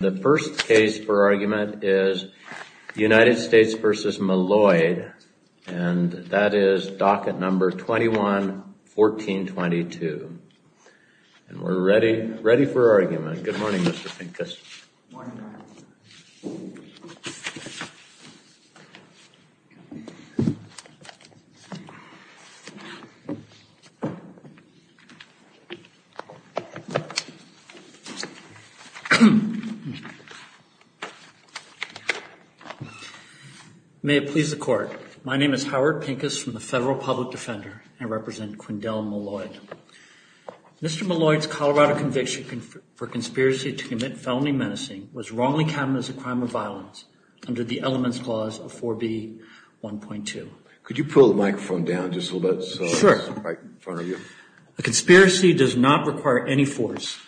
The first case for argument is United States v. Maloid, and that is docket number 21-1422. And we're ready, ready for argument. Good morning, Mr. Pincus. Good morning, Your Honor. May it please the Court. My name is Howard Pincus from the Federal Public Defender, and I represent Quindell Maloid. Mr. Maloid's Colorado conviction for conspiracy to commit felony menacing was wrongly counted as a crime of violence under the Elements Clause of 4B1.2. Could you pull the microphone down just a little bit? Sure. Right in front of you. A conspiracy does not require any force,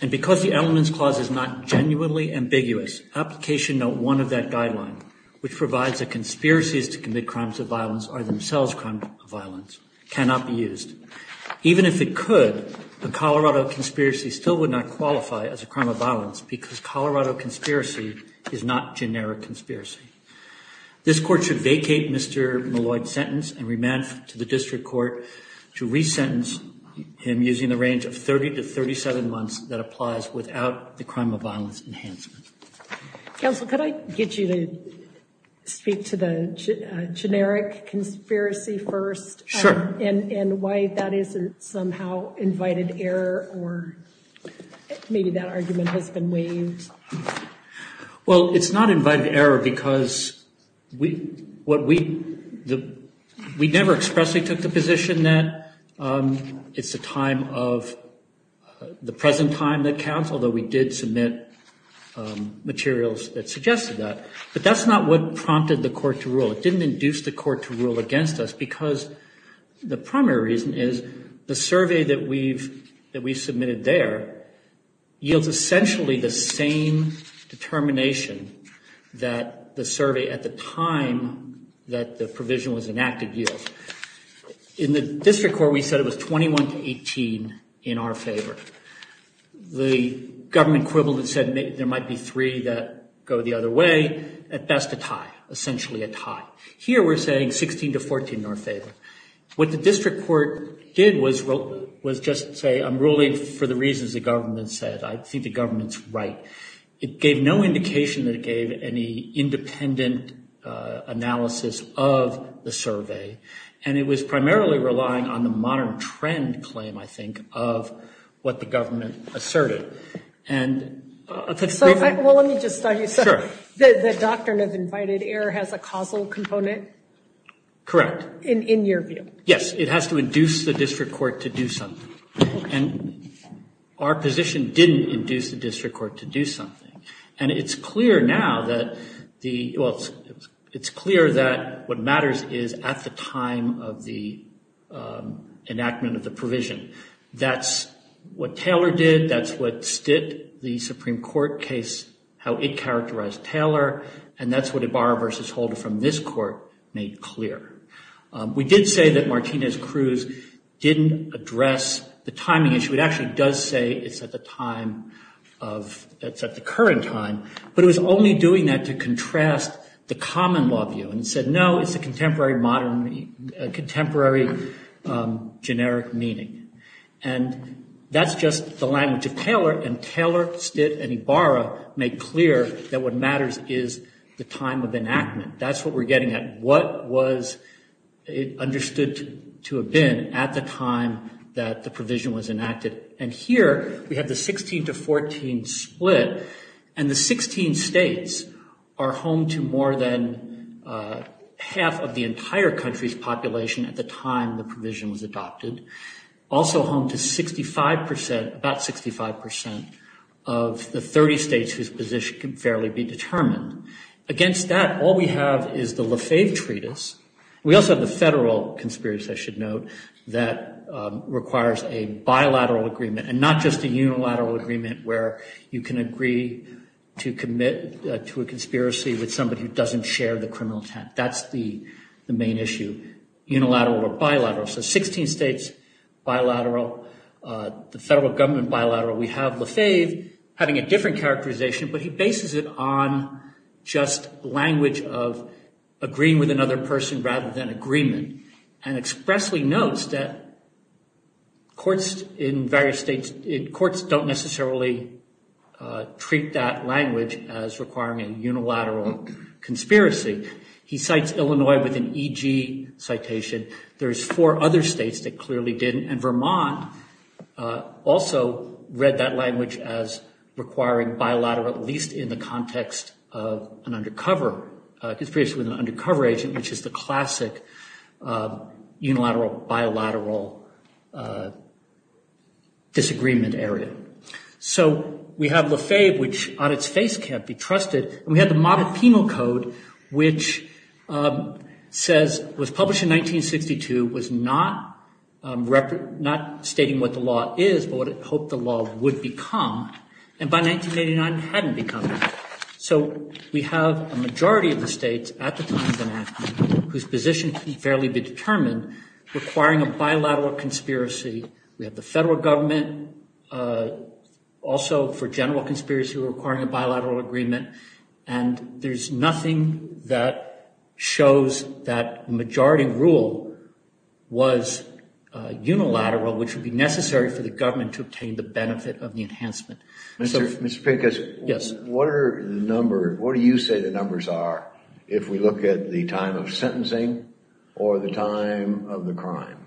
and because the Elements Clause is not genuinely ambiguous, Application Note 1 of that guideline, which provides that conspiracies to commit crimes of violence are themselves crimes of violence, cannot be used. Even if it could, the Colorado conspiracy still would not qualify as a crime of violence because Colorado conspiracy is not generic conspiracy. This Court should vacate Mr. Maloid's sentence and remand him to the District Court to resentence him using the range of 30 to 37 months that applies without the crime of violence enhancement. Counsel, could I get you to speak to the generic conspiracy first? Sure. And why that isn't somehow invited error or maybe that argument has been waived? Well, it's not invited error because we never expressly took the position that it's the time of the present time that counts, although we did submit materials that suggested that. But that's not what prompted the Court to rule. It didn't induce the Court to rule against us because the primary reason is the survey that we submitted there yields essentially the same determination that the survey at the time that the provision was enacted yields. In the District Court, we said it was 21 to 18 in our favor. The government equivalent said there might be three that go the other way. At best, a tie, essentially a tie. Here, we're saying 16 to 14 in our favor. What the District Court did was just say I'm ruling for the reasons the government said. I think the government's right. It gave no indication that it gave any independent analysis of the survey. And it was primarily relying on the modern trend claim, I think, of what the government asserted. And that's given. Well, let me just start you. Sure. The doctrine of invited error has a causal component? Correct. In your view. Yes. It has to induce the District Court to do something. And our position didn't induce the District Court to do something. And it's clear now that the – well, it's clear that what matters is at the time of the enactment of the provision. That's what Taylor did. That's what stit the Supreme Court case, how it characterized Taylor. And that's what Ibarra v. Holder from this court made clear. We did say that Martinez-Cruz didn't address the timing issue. It actually does say it's at the time of – it's at the current time. But it was only doing that to contrast the common law view and said, no, it's a contemporary modern – contemporary generic meaning. And that's just the language of Taylor. And Taylor, stit, and Ibarra made clear that what matters is the time of enactment. That's what we're getting at. What was understood to have been at the time that the provision was enacted. And here we have the 16 to 14 split. And the 16 states are home to more than half of the entire country's population at the time the provision was adopted. Also home to 65 percent – about 65 percent of the 30 states whose position can fairly be determined. Against that, all we have is the Lefebvre Treatise. We also have the federal conspiracy, I should note, that requires a bilateral agreement. And not just a unilateral agreement where you can agree to commit to a conspiracy with somebody who doesn't share the criminal intent. That's the main issue. Unilateral or bilateral. So 16 states, bilateral. The federal government, bilateral. We have Lefebvre having a different characterization, but he bases it on just language of agreeing with another person rather than agreement. And expressly notes that courts in various states – courts don't necessarily treat that language as requiring a unilateral conspiracy. He cites Illinois with an E.G. citation. There's four other states that clearly didn't. And Vermont also read that language as requiring bilateral, at least in the context of an undercover conspiracy with an undercover agent, which is the classic unilateral, bilateral disagreement area. So we have Lefebvre, which on its face can't be trusted. And we have the Modic Penal Code, which says – was published in 1962, was not stating what the law is, but what it hoped the law would become, and by 1989 hadn't become that. So we have a majority of the states at the time of enactment whose position can fairly be determined requiring a bilateral conspiracy. We have the federal government also for general conspiracy requiring a bilateral agreement. And there's nothing that shows that majority rule was unilateral, which would be necessary for the government to obtain the benefit of the enhancement. Mr. Pincus, what do you say the numbers are if we look at the time of sentencing or the time of the crime,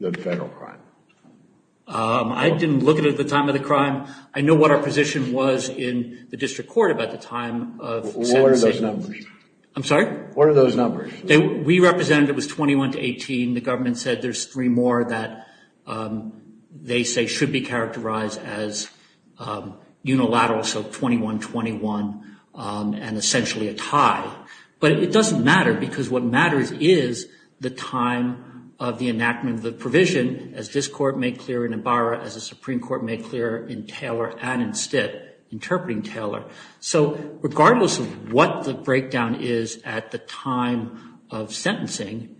the federal crime? I didn't look at the time of the crime. I know what our position was in the district court about the time of sentencing. What are those numbers? I'm sorry? What are those numbers? We represented it was 21 to 18. The government said there's three more that they say should be characterized as unilateral, so 21-21 and essentially a tie. But it doesn't matter because what matters is the time of the enactment of the provision, as this court made clear in Ibarra, as the Supreme Court made clear in Taylor and in Stitt, interpreting Taylor. So regardless of what the breakdown is at the time of sentencing,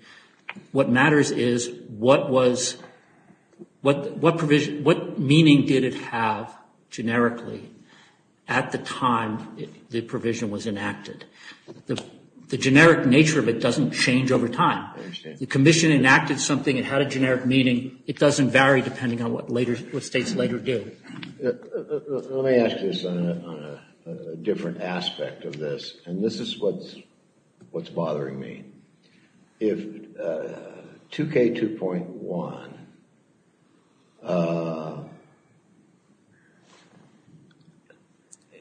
what matters is what was, what provision, what meaning did it have generically at the time the provision was enacted. The generic nature of it doesn't change over time. The commission enacted something. It had a generic meaning. It doesn't vary depending on what later, what states later do. Let me ask you this on a different aspect of this, and this is what's bothering me. If 2K2.1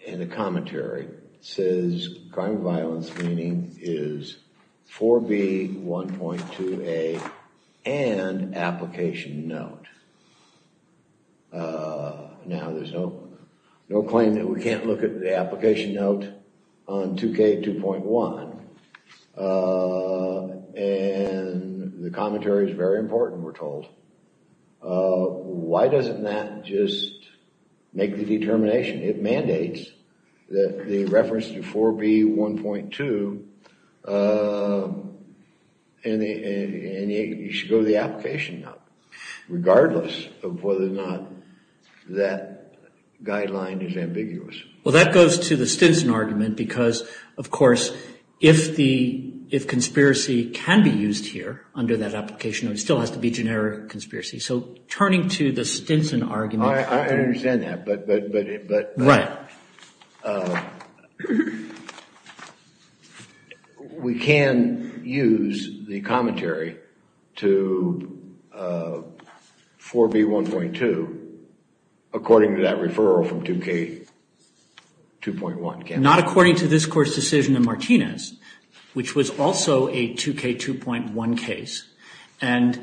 in the commentary says crime of violence meaning is 4B1.2A and application note. Now there's no claim that we can't look at the application note on 2K2.1, and the commentary is very important we're told. Why doesn't that just make the determination? It mandates that the reference to 4B1.2 and you should go to the application note. Regardless of whether or not that guideline is ambiguous. Well that goes to the Stinson argument because of course if the, if conspiracy can be used here under that application note, it still has to be generic conspiracy. So turning to the Stinson argument. I understand that, but we can use the commentary to 4B1.2 according to that referral from 2K2.1. Not according to this court's decision in Martinez, which was also a 2K2.1 case. And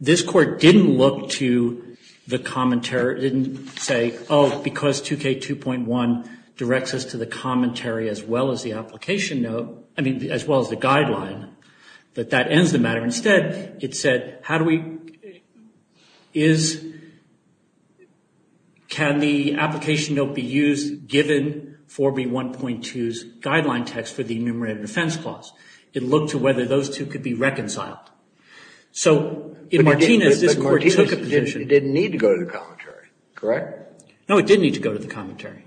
this court didn't look to the commentary, didn't say oh because 2K2.1 directs us to the commentary as well as the application note, I mean as well as the guideline, that that ends the matter. Instead it said how do we, is, can the application note be used given 4B1.2's guideline text for the enumerated offense clause. It looked to whether those two could be reconciled. So in Martinez this court took a position. But in Martinez it didn't need to go to the commentary, correct? No, it didn't need to go to the commentary.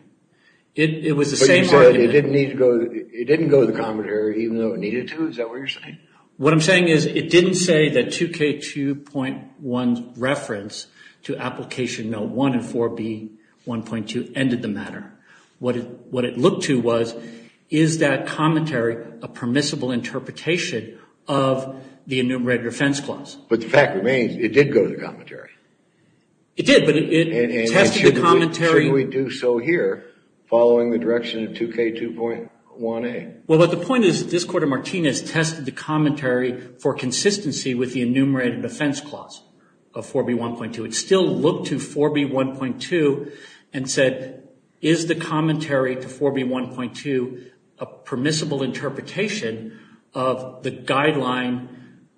It was the same argument. But you said it didn't need to go, it didn't go to the commentary even though it needed to, is that what you're saying? What I'm saying is it didn't say that 2K2.1's reference to application note 1 and 4B1.2 ended the matter. What it looked to was is that commentary a permissible interpretation of the enumerated offense clause. But the fact remains it did go to the commentary. It did, but it tested the commentary. And should we do so here following the direction of 2K2.1A? Well, but the point is this Court of Martinez tested the commentary for consistency with the enumerated offense clause of 4B1.2. It would still look to 4B1.2 and said is the commentary to 4B1.2 a permissible interpretation of the guideline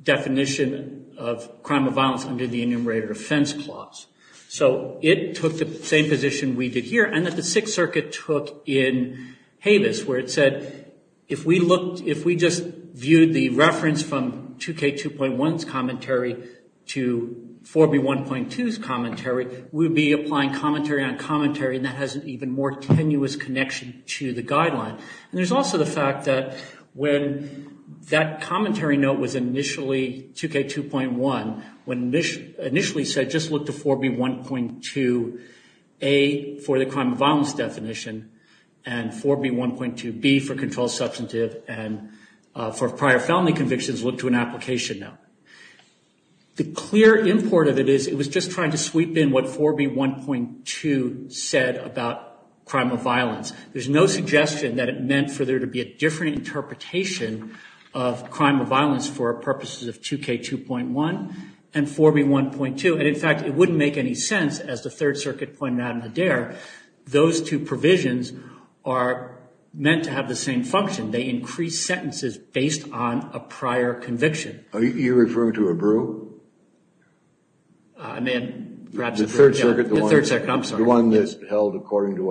definition of crime of violence under the enumerated offense clause? So it took the same position we did here and that the Sixth Circuit took in Habeas where it said if we just viewed the reference from 2K2.1's commentary to 4B1.2's commentary, we would be applying commentary on commentary and that has an even more tenuous connection to the guideline. And there's also the fact that when that commentary note was initially 2K2.1, when it initially said just look to 4B1.2A for the crime of violence definition and 4B1.2B for control substantive and for prior felony convictions, look to an application note. The clear import of it is it was just trying to sweep in what 4B1.2 said about crime of violence. There's no suggestion that it meant for there to be a different interpretation of crime of violence for purposes of 2K2.1 and 4B1.2. And, in fact, it wouldn't make any sense as the Third Circuit pointed out in the DARE. Those two provisions are meant to have the same function. They increase sentences based on a prior conviction. Are you referring to a brew? I may have perhaps— The Third Circuit, I'm sorry.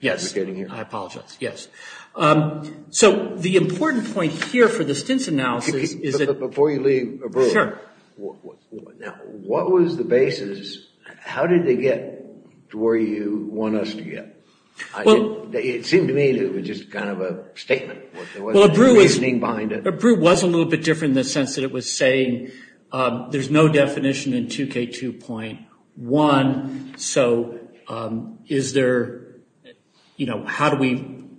Yes. I apologize. Yes. So the important point here for the Stintz analysis is that— Before you leave a brew. Sure. Now, what was the basis? How did they get to where you want us to get? It seemed to me that it was just kind of a statement. There wasn't a reasoning behind it. A brew was a little bit different in the sense that it was saying there's no definition in 2K2.1. So is there— How do we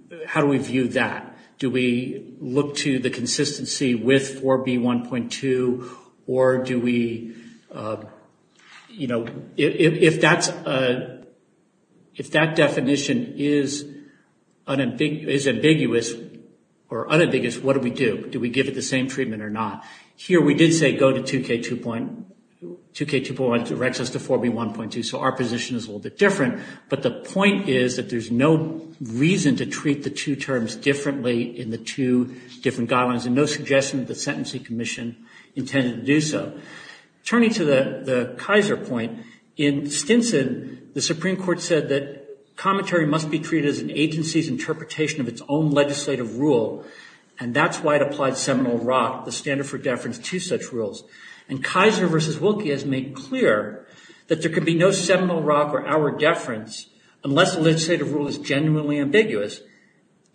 view that? Do we look to the consistency with 4B1.2 or do we— If that definition is ambiguous or unambiguous, what do we do? Do we give it the same treatment or not? Here we did say go to 2K2.1. 2K2.1 directs us to 4B1.2, so our position is a little bit different. But the point is that there's no reason to treat the two terms differently in the two different guidelines and no suggestion that the Sentencing Commission intended to do so. Turning to the Kaiser point, in Stinson, the Supreme Court said that commentary must be treated as an agency's interpretation of its own legislative rule, and that's why it applied Seminole Rock, the standard for deference to such rules. And Kaiser v. Wilkie has made clear that there can be no Seminole Rock or our deference unless the legislative rule is genuinely ambiguous.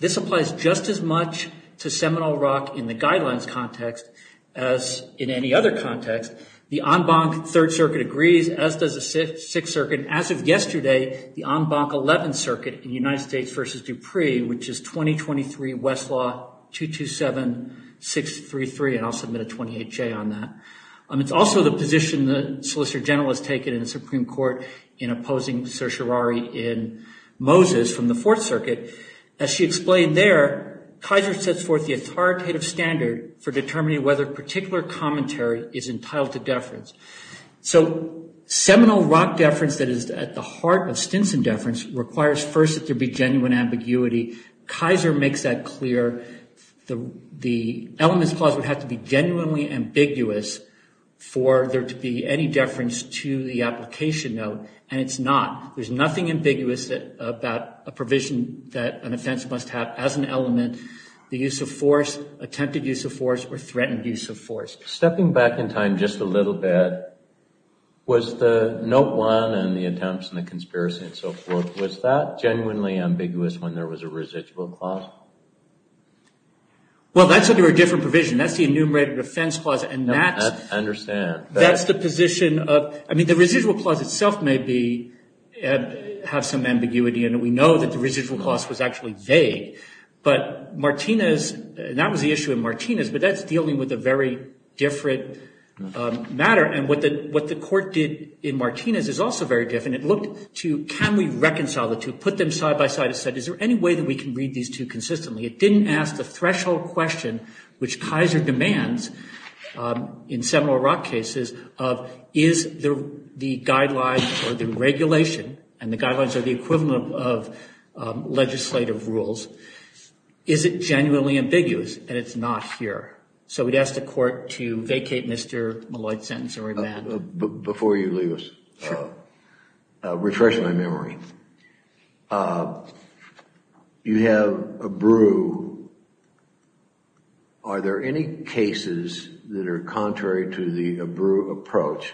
This applies just as much to Seminole Rock in the guidelines context as in any other context. The en banc Third Circuit agrees, as does the Sixth Circuit. As of yesterday, the en banc Eleventh Circuit in United States v. Dupree, which is 2023 Westlaw 227633, and I'll submit a 28-J on that. It's also the position the Solicitor General has taken in the Supreme Court in opposing certiorari in Moses from the Fourth Circuit. As she explained there, Kaiser sets forth the authoritative standard for determining whether particular commentary is entitled to deference. So Seminole Rock deference that is at the heart of Stinson deference requires first that there be genuine ambiguity. Kaiser makes that clear. The elements clause would have to be genuinely ambiguous for there to be any deference to the application note, and it's not. There's nothing ambiguous about a provision that an offense must have as an element, the use of force, attempted use of force, or threatened use of force. Stepping back in time just a little bit, was the note one and the attempts and the conspiracy and so forth, was that genuinely ambiguous when there was a residual clause? Well, that's under a different provision. That's the enumerated offense clause, and that's the position of – I mean, the residual clause itself may have some ambiguity, and we know that the residual clause was actually vague, but Martinez – and that was the issue in Martinez, but that's dealing with a very different matter, and what the court did in Martinez is also very different. It looked to can we reconcile the two, put them side by side, and said is there any way that we can read these two consistently? It didn't ask the threshold question, which Kaiser demands in Seminole Rock cases, of is the guidelines or the regulation, and the guidelines are the equivalent of legislative rules, is it genuinely ambiguous, and it's not here. So we'd ask the court to vacate Mr. Molloy's sentence or abandon it. Before you leave us, refreshing my memory, you have a brew. Are there any cases that are contrary to the brew approach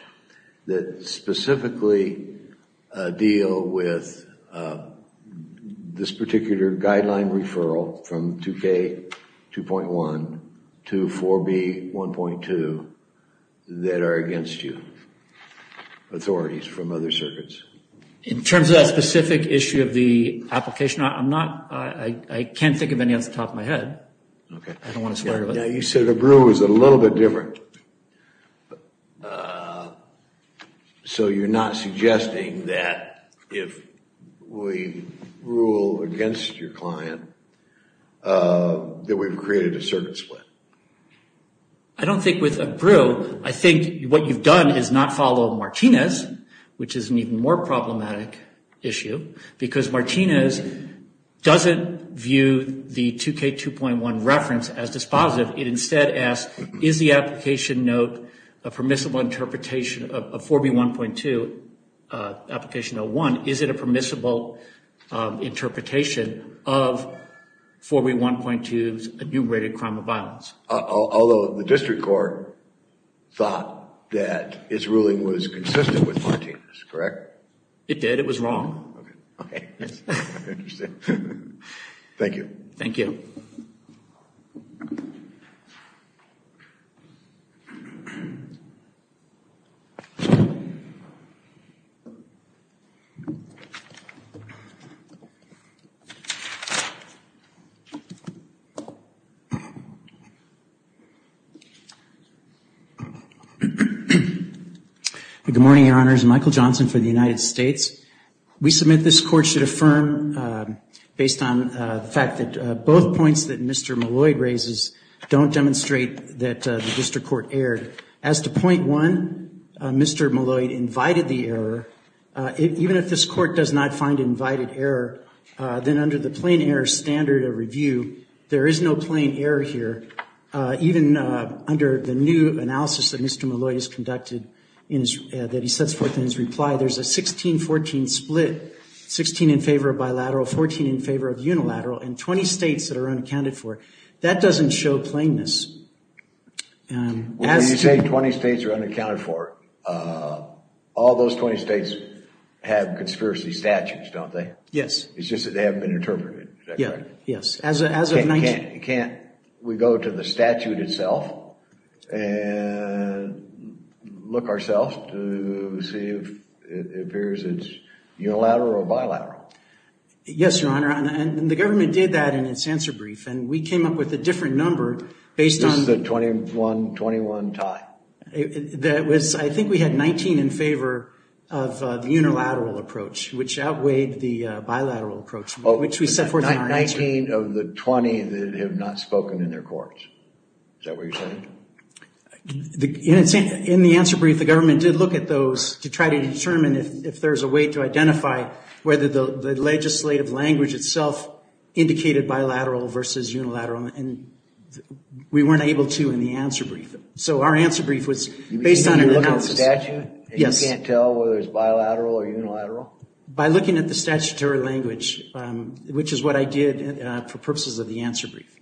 that specifically deal with this particular guideline referral from 2K2.1 to 4B1.2 that are against you, authorities from other circuits? In terms of that specific issue of the application, I'm not – I can't think of any off the top of my head. You said the brew was a little bit different. So you're not suggesting that if we rule against your client that we've created a circuit split? I don't think with a brew, I think what you've done is not follow Martinez, which is an even more problematic issue, because Martinez doesn't view the 2K2.1 reference as dispositive. It instead asks, is the application note a permissible interpretation of 4B1.2, application 01, is it a permissible interpretation of 4B1.2's enumerated crime of violence? Although the district court thought that its ruling was consistent with Martinez, correct? It did. It was wrong. Okay. I understand. Thank you. Thank you. Good morning, Your Honors. Michael Johnson for the United States. We submit this court should affirm, based on the fact that both points that Mr. Malloy raises don't demonstrate that the district court erred. As to point one, Mr. Malloy invited the error. Even if this court does not find invited error, then under the plain error standard of review, there is no plain error here. Even under the new analysis that Mr. Malloy has conducted that he sets forth in his reply, there's a 16-14 split, 16 in favor of bilateral, 14 in favor of unilateral, and 20 states that are unaccounted for. That doesn't show plainness. Well, you say 20 states are unaccounted for. All those 20 states have conspiracy statutes, don't they? Yes. It's just that they haven't been interpreted, is that correct? Yes. As of 19- Can't we go to the statute itself and look ourselves to see if it appears it's unilateral or bilateral? Yes, Your Honor. And the government did that in its answer brief, and we came up with a different number based on- This is a 21-21 tie. I think we had 19 in favor of the unilateral approach, which outweighed the bilateral approach, which we set forth in our answer brief. 19 of the 20 that have not spoken in their courts. Is that what you're saying? In the answer brief, the government did look at those to try to determine if there's a way to identify whether the legislative language itself indicated bilateral versus unilateral, and we weren't able to in the answer brief. So our answer brief was based on an analysis. You mean you look at the statute- Yes. And you can't tell whether it's bilateral or unilateral? By looking at the statutory language, which is what I did for purposes of the answer brief.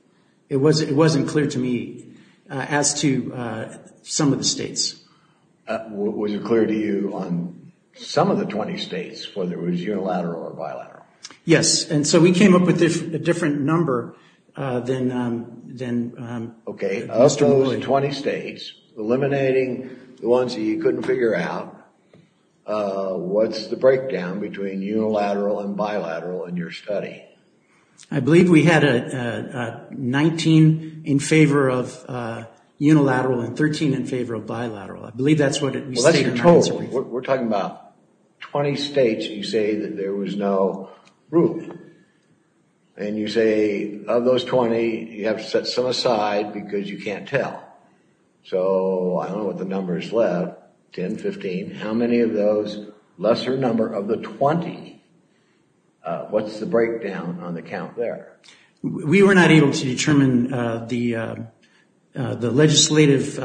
It wasn't clear to me as to some of the states. Was it clear to you on some of the 20 states whether it was unilateral or bilateral? Yes. And so we came up with a different number than- Okay. Of those 20 states, eliminating the ones that you couldn't figure out, what's the breakdown between unilateral and bilateral in your study? I believe we had 19 in favor of unilateral and 13 in favor of bilateral. I believe that's what we stated in our answer brief. We're talking about 20 states you say that there was no rule. And you say of those 20, you have to set some aside because you can't tell. So I don't know what the number is left, 10, 15. How many of those, lesser number of the 20, what's the breakdown on the count there? We were not able to determine the legislative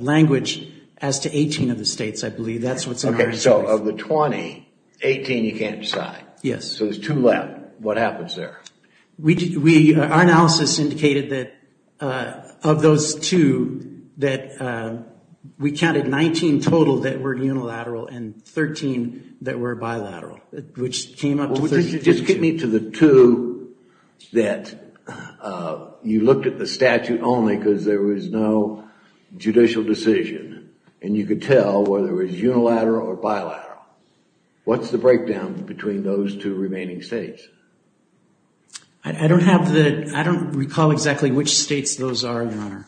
language as to 18 of the states, I believe. That's what's in our answer brief. Okay. So of the 20, 18 you can't decide. Yes. So there's two left. What happens there? Our analysis indicated that of those two, we counted 19 total that were unilateral and 13 that were bilateral, which came up to 32. Just get me to the two that you looked at the statute only because there was no judicial decision. And you could tell whether it was unilateral or bilateral. What's the breakdown between those two remaining states? I don't have the, I don't recall exactly which states those are, Your Honor.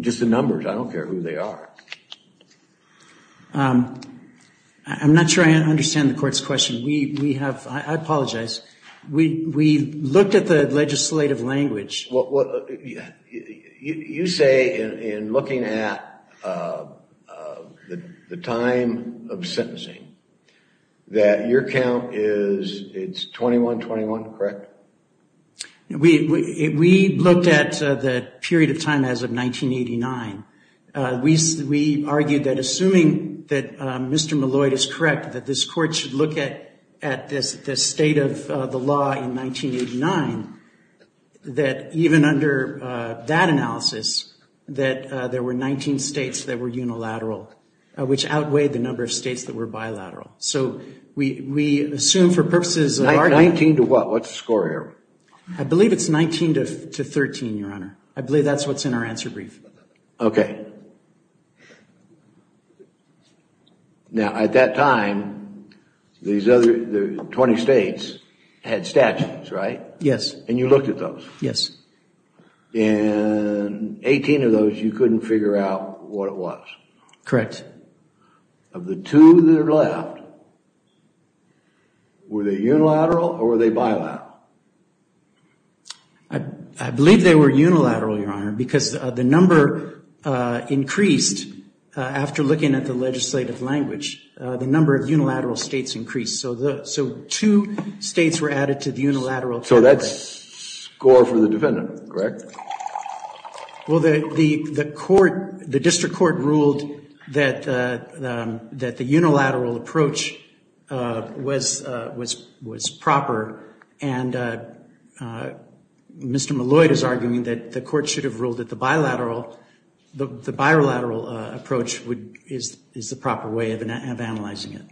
Just the numbers. I don't care who they are. I'm not sure I understand the court's question. We have, I apologize. We looked at the legislative language. You say in looking at the time of sentencing that your count is, it's 21, 21, correct? We looked at the period of time as of 1989. We argued that assuming that Mr. Malloy is correct, that this court should look at this state of the law in 1989, that even under that analysis, that there were 19 states that were unilateral, which outweighed the number of states that were bilateral. So we assume for purposes of argument. 19 to what? What's the score here? I believe it's 19 to 13, Your Honor. I believe that's what's in our answer brief. Okay. Now at that time, these other 20 states had statutes, right? Yes. And you looked at those? Yes. And 18 of those you couldn't figure out what it was? Correct. Of the two that are left, were they unilateral or were they bilateral? I believe they were unilateral, Your Honor, because the number increased after looking at the legislative language. The number of unilateral states increased. So two states were added to the unilateral category. So that's a score for the defendant, correct? Well, the court, the district court ruled that the unilateral approach was proper, and Mr. Malloy is arguing that the court should have ruled that the bilateral approach is the proper way of analyzing it.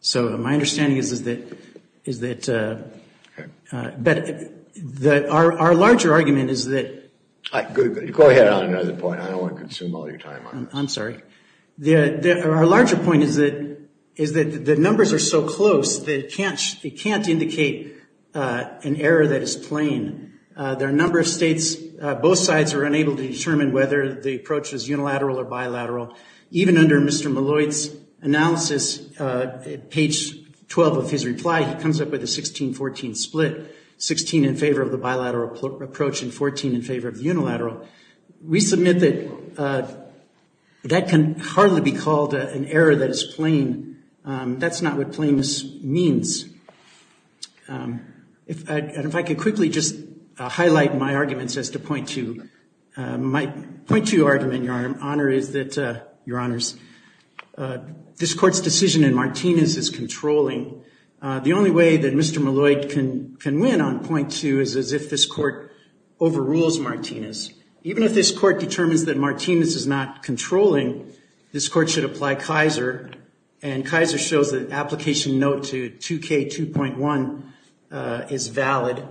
So my understanding is that our larger argument is that – Go ahead on another point. I don't want to consume all your time on this. I'm sorry. Our larger point is that the numbers are so close that it can't indicate an error that is plain. There are a number of states, both sides are unable to determine whether the approach is unilateral or bilateral. Even under Mr. Malloy's analysis, page 12 of his reply, he comes up with a 16-14 split, 16 in favor of the bilateral approach and 14 in favor of the unilateral. We submit that that can hardly be called an error that is plain. That's not what plainness means. And if I could quickly just highlight my arguments as to point to. My point to your argument, Your Honor, is that, Your Honors, this court's decision in Martinez is controlling. The only way that Mr. Malloy can win on point two is if this court overrules Martinez. Even if this court determines that Martinez is not controlling, this court should apply Kaiser, and Kaiser shows the application note to 2K2.1 is valid,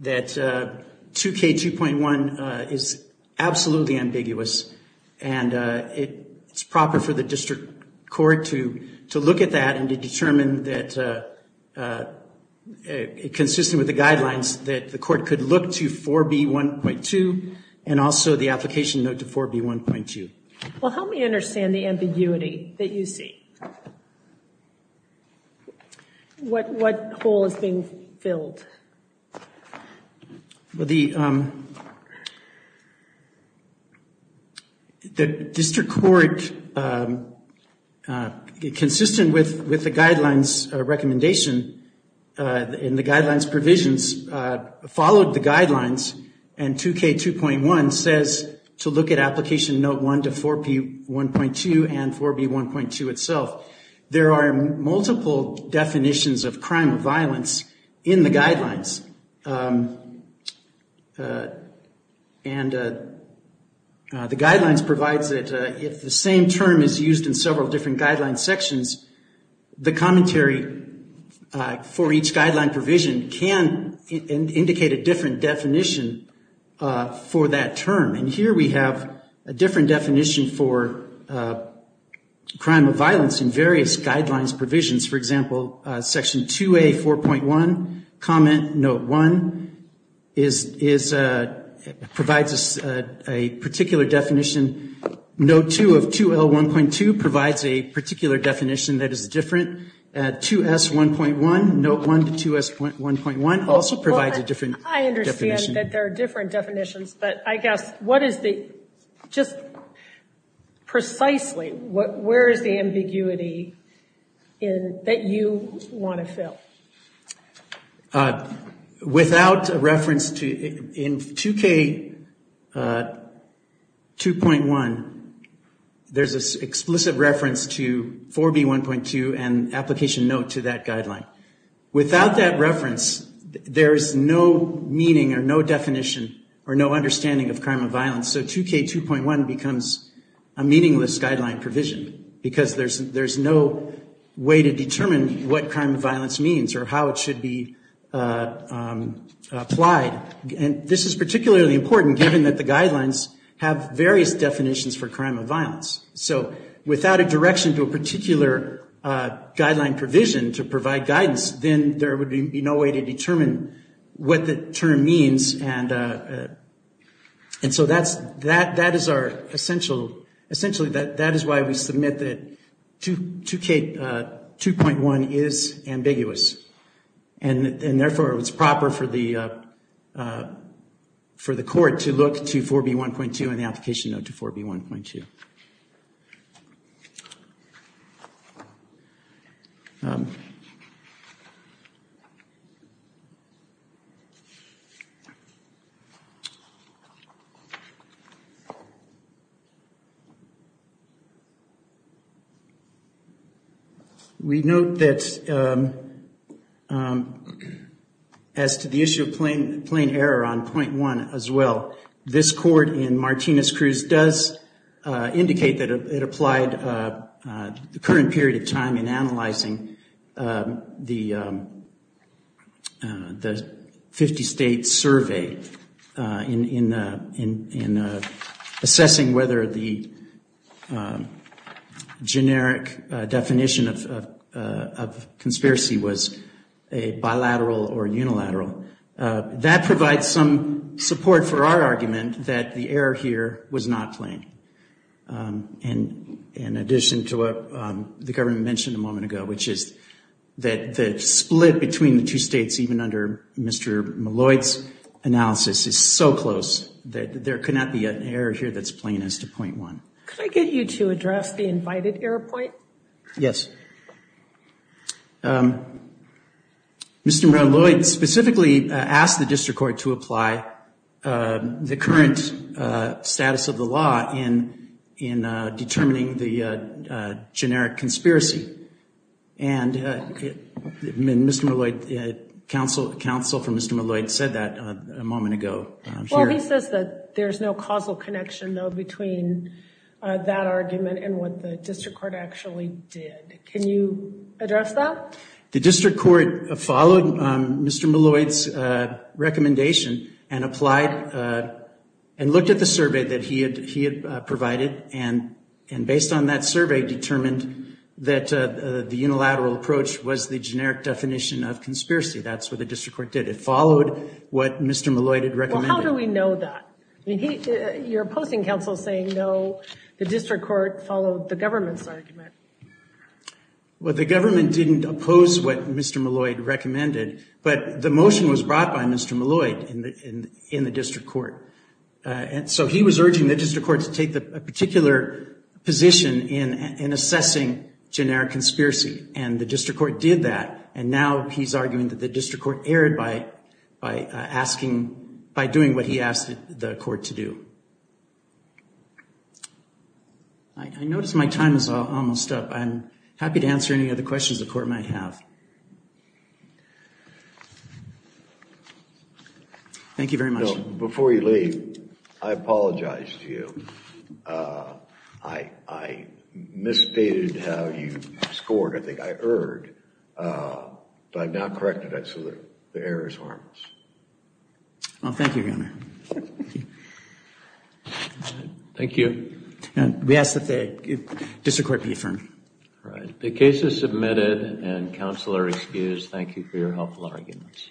that 2K2.1 is absolutely ambiguous, and it's proper for the district court to look at that and to determine that, consistent with the guidelines, that the court could look to 4B1.2 and also the application note to 4B1.2. Well, help me understand the ambiguity that you see. What hole is being filled? Well, the district court, consistent with the guidelines recommendation and the guidelines provisions, followed the guidelines, and 2K2.1 says to look at application note one to 4B1.2 and 4B1.2 itself. There are multiple definitions of crime of violence in the guidelines, and the guidelines provides that if the same term is used in several different guidelines sections, the commentary for each guideline provision can indicate a different definition for that term. And here we have a different definition for crime of violence in various guidelines provisions. For example, section 2A4.1, comment note one provides a particular definition. Note two of 2L1.2 provides a particular definition that is different. 2S1.1, note one to 2S1.1 also provides a different definition. I understand that there are different definitions, but I guess what is the, just precisely, where is the ambiguity that you want to fill? Without a reference to, in 2K2.1, there is an explicit reference to 4B1.2 and application note to that guideline. Without that reference, there is no meaning or no definition or no understanding of crime of violence. So 2K2.1 becomes a meaningless guideline provision because there is no way to determine what crime of violence means or how it should be applied. And this is particularly important given that the guidelines have various definitions for crime of violence. So without a direction to a particular guideline provision to provide guidance, then there would be no way to determine what the term means. And so that is our essential, essentially that is why we submit that 2K2.1 is ambiguous. And therefore, it's proper for the court to look to 4B1.2 and the application note to 4B1.2. We note that as to the issue of plain error on 0.1 as well, this court in Martinez-Cruz does indicate that it applied the current period of time in analyzing the 50-state survey in assessing whether the generic definition of conspiracy was a bilateral or unilateral. That provides some support for our argument that the error here was not plain. And in addition to what the government mentioned a moment ago, which is that the split between the two states even under Mr. Malloy's analysis is so close that there could not be an error here that's plain as to 0.1. Could I get you to address the invited error point? Yes. Mr. Malloy specifically asked the district court to apply the current status of the law in determining the generic conspiracy. And Mr. Malloy, counsel from Mr. Malloy said that a moment ago. Well, he says that there's no causal connection, though, between that argument and what the district court actually did. Can you address that? The district court followed Mr. Malloy's recommendation and applied and looked at the survey that he had provided and based on that survey determined that the unilateral approach was the generic definition of conspiracy. That's what the district court did. It followed what Mr. Malloy had recommended. Well, how do we know that? You're opposing counsel saying, no, the district court followed the government's argument. Well, the government didn't oppose what Mr. Malloy recommended, but the motion was brought by Mr. Malloy in the district court. And so he was urging the district court to take a particular position in assessing generic conspiracy. And the district court did that. And now he's arguing that the district court erred by asking, by doing what he asked the court to do. I notice my time is almost up. I'm happy to answer any other questions the court might have. Thank you very much. Before you leave, I apologize to you. I misstated how you scored. I think I erred. But I've now corrected it so the error is harmless. Well, thank you, Your Honor. Thank you. We ask that the district court be affirmed. The case is submitted and counsel are excused. Thank you for your helpful arguments.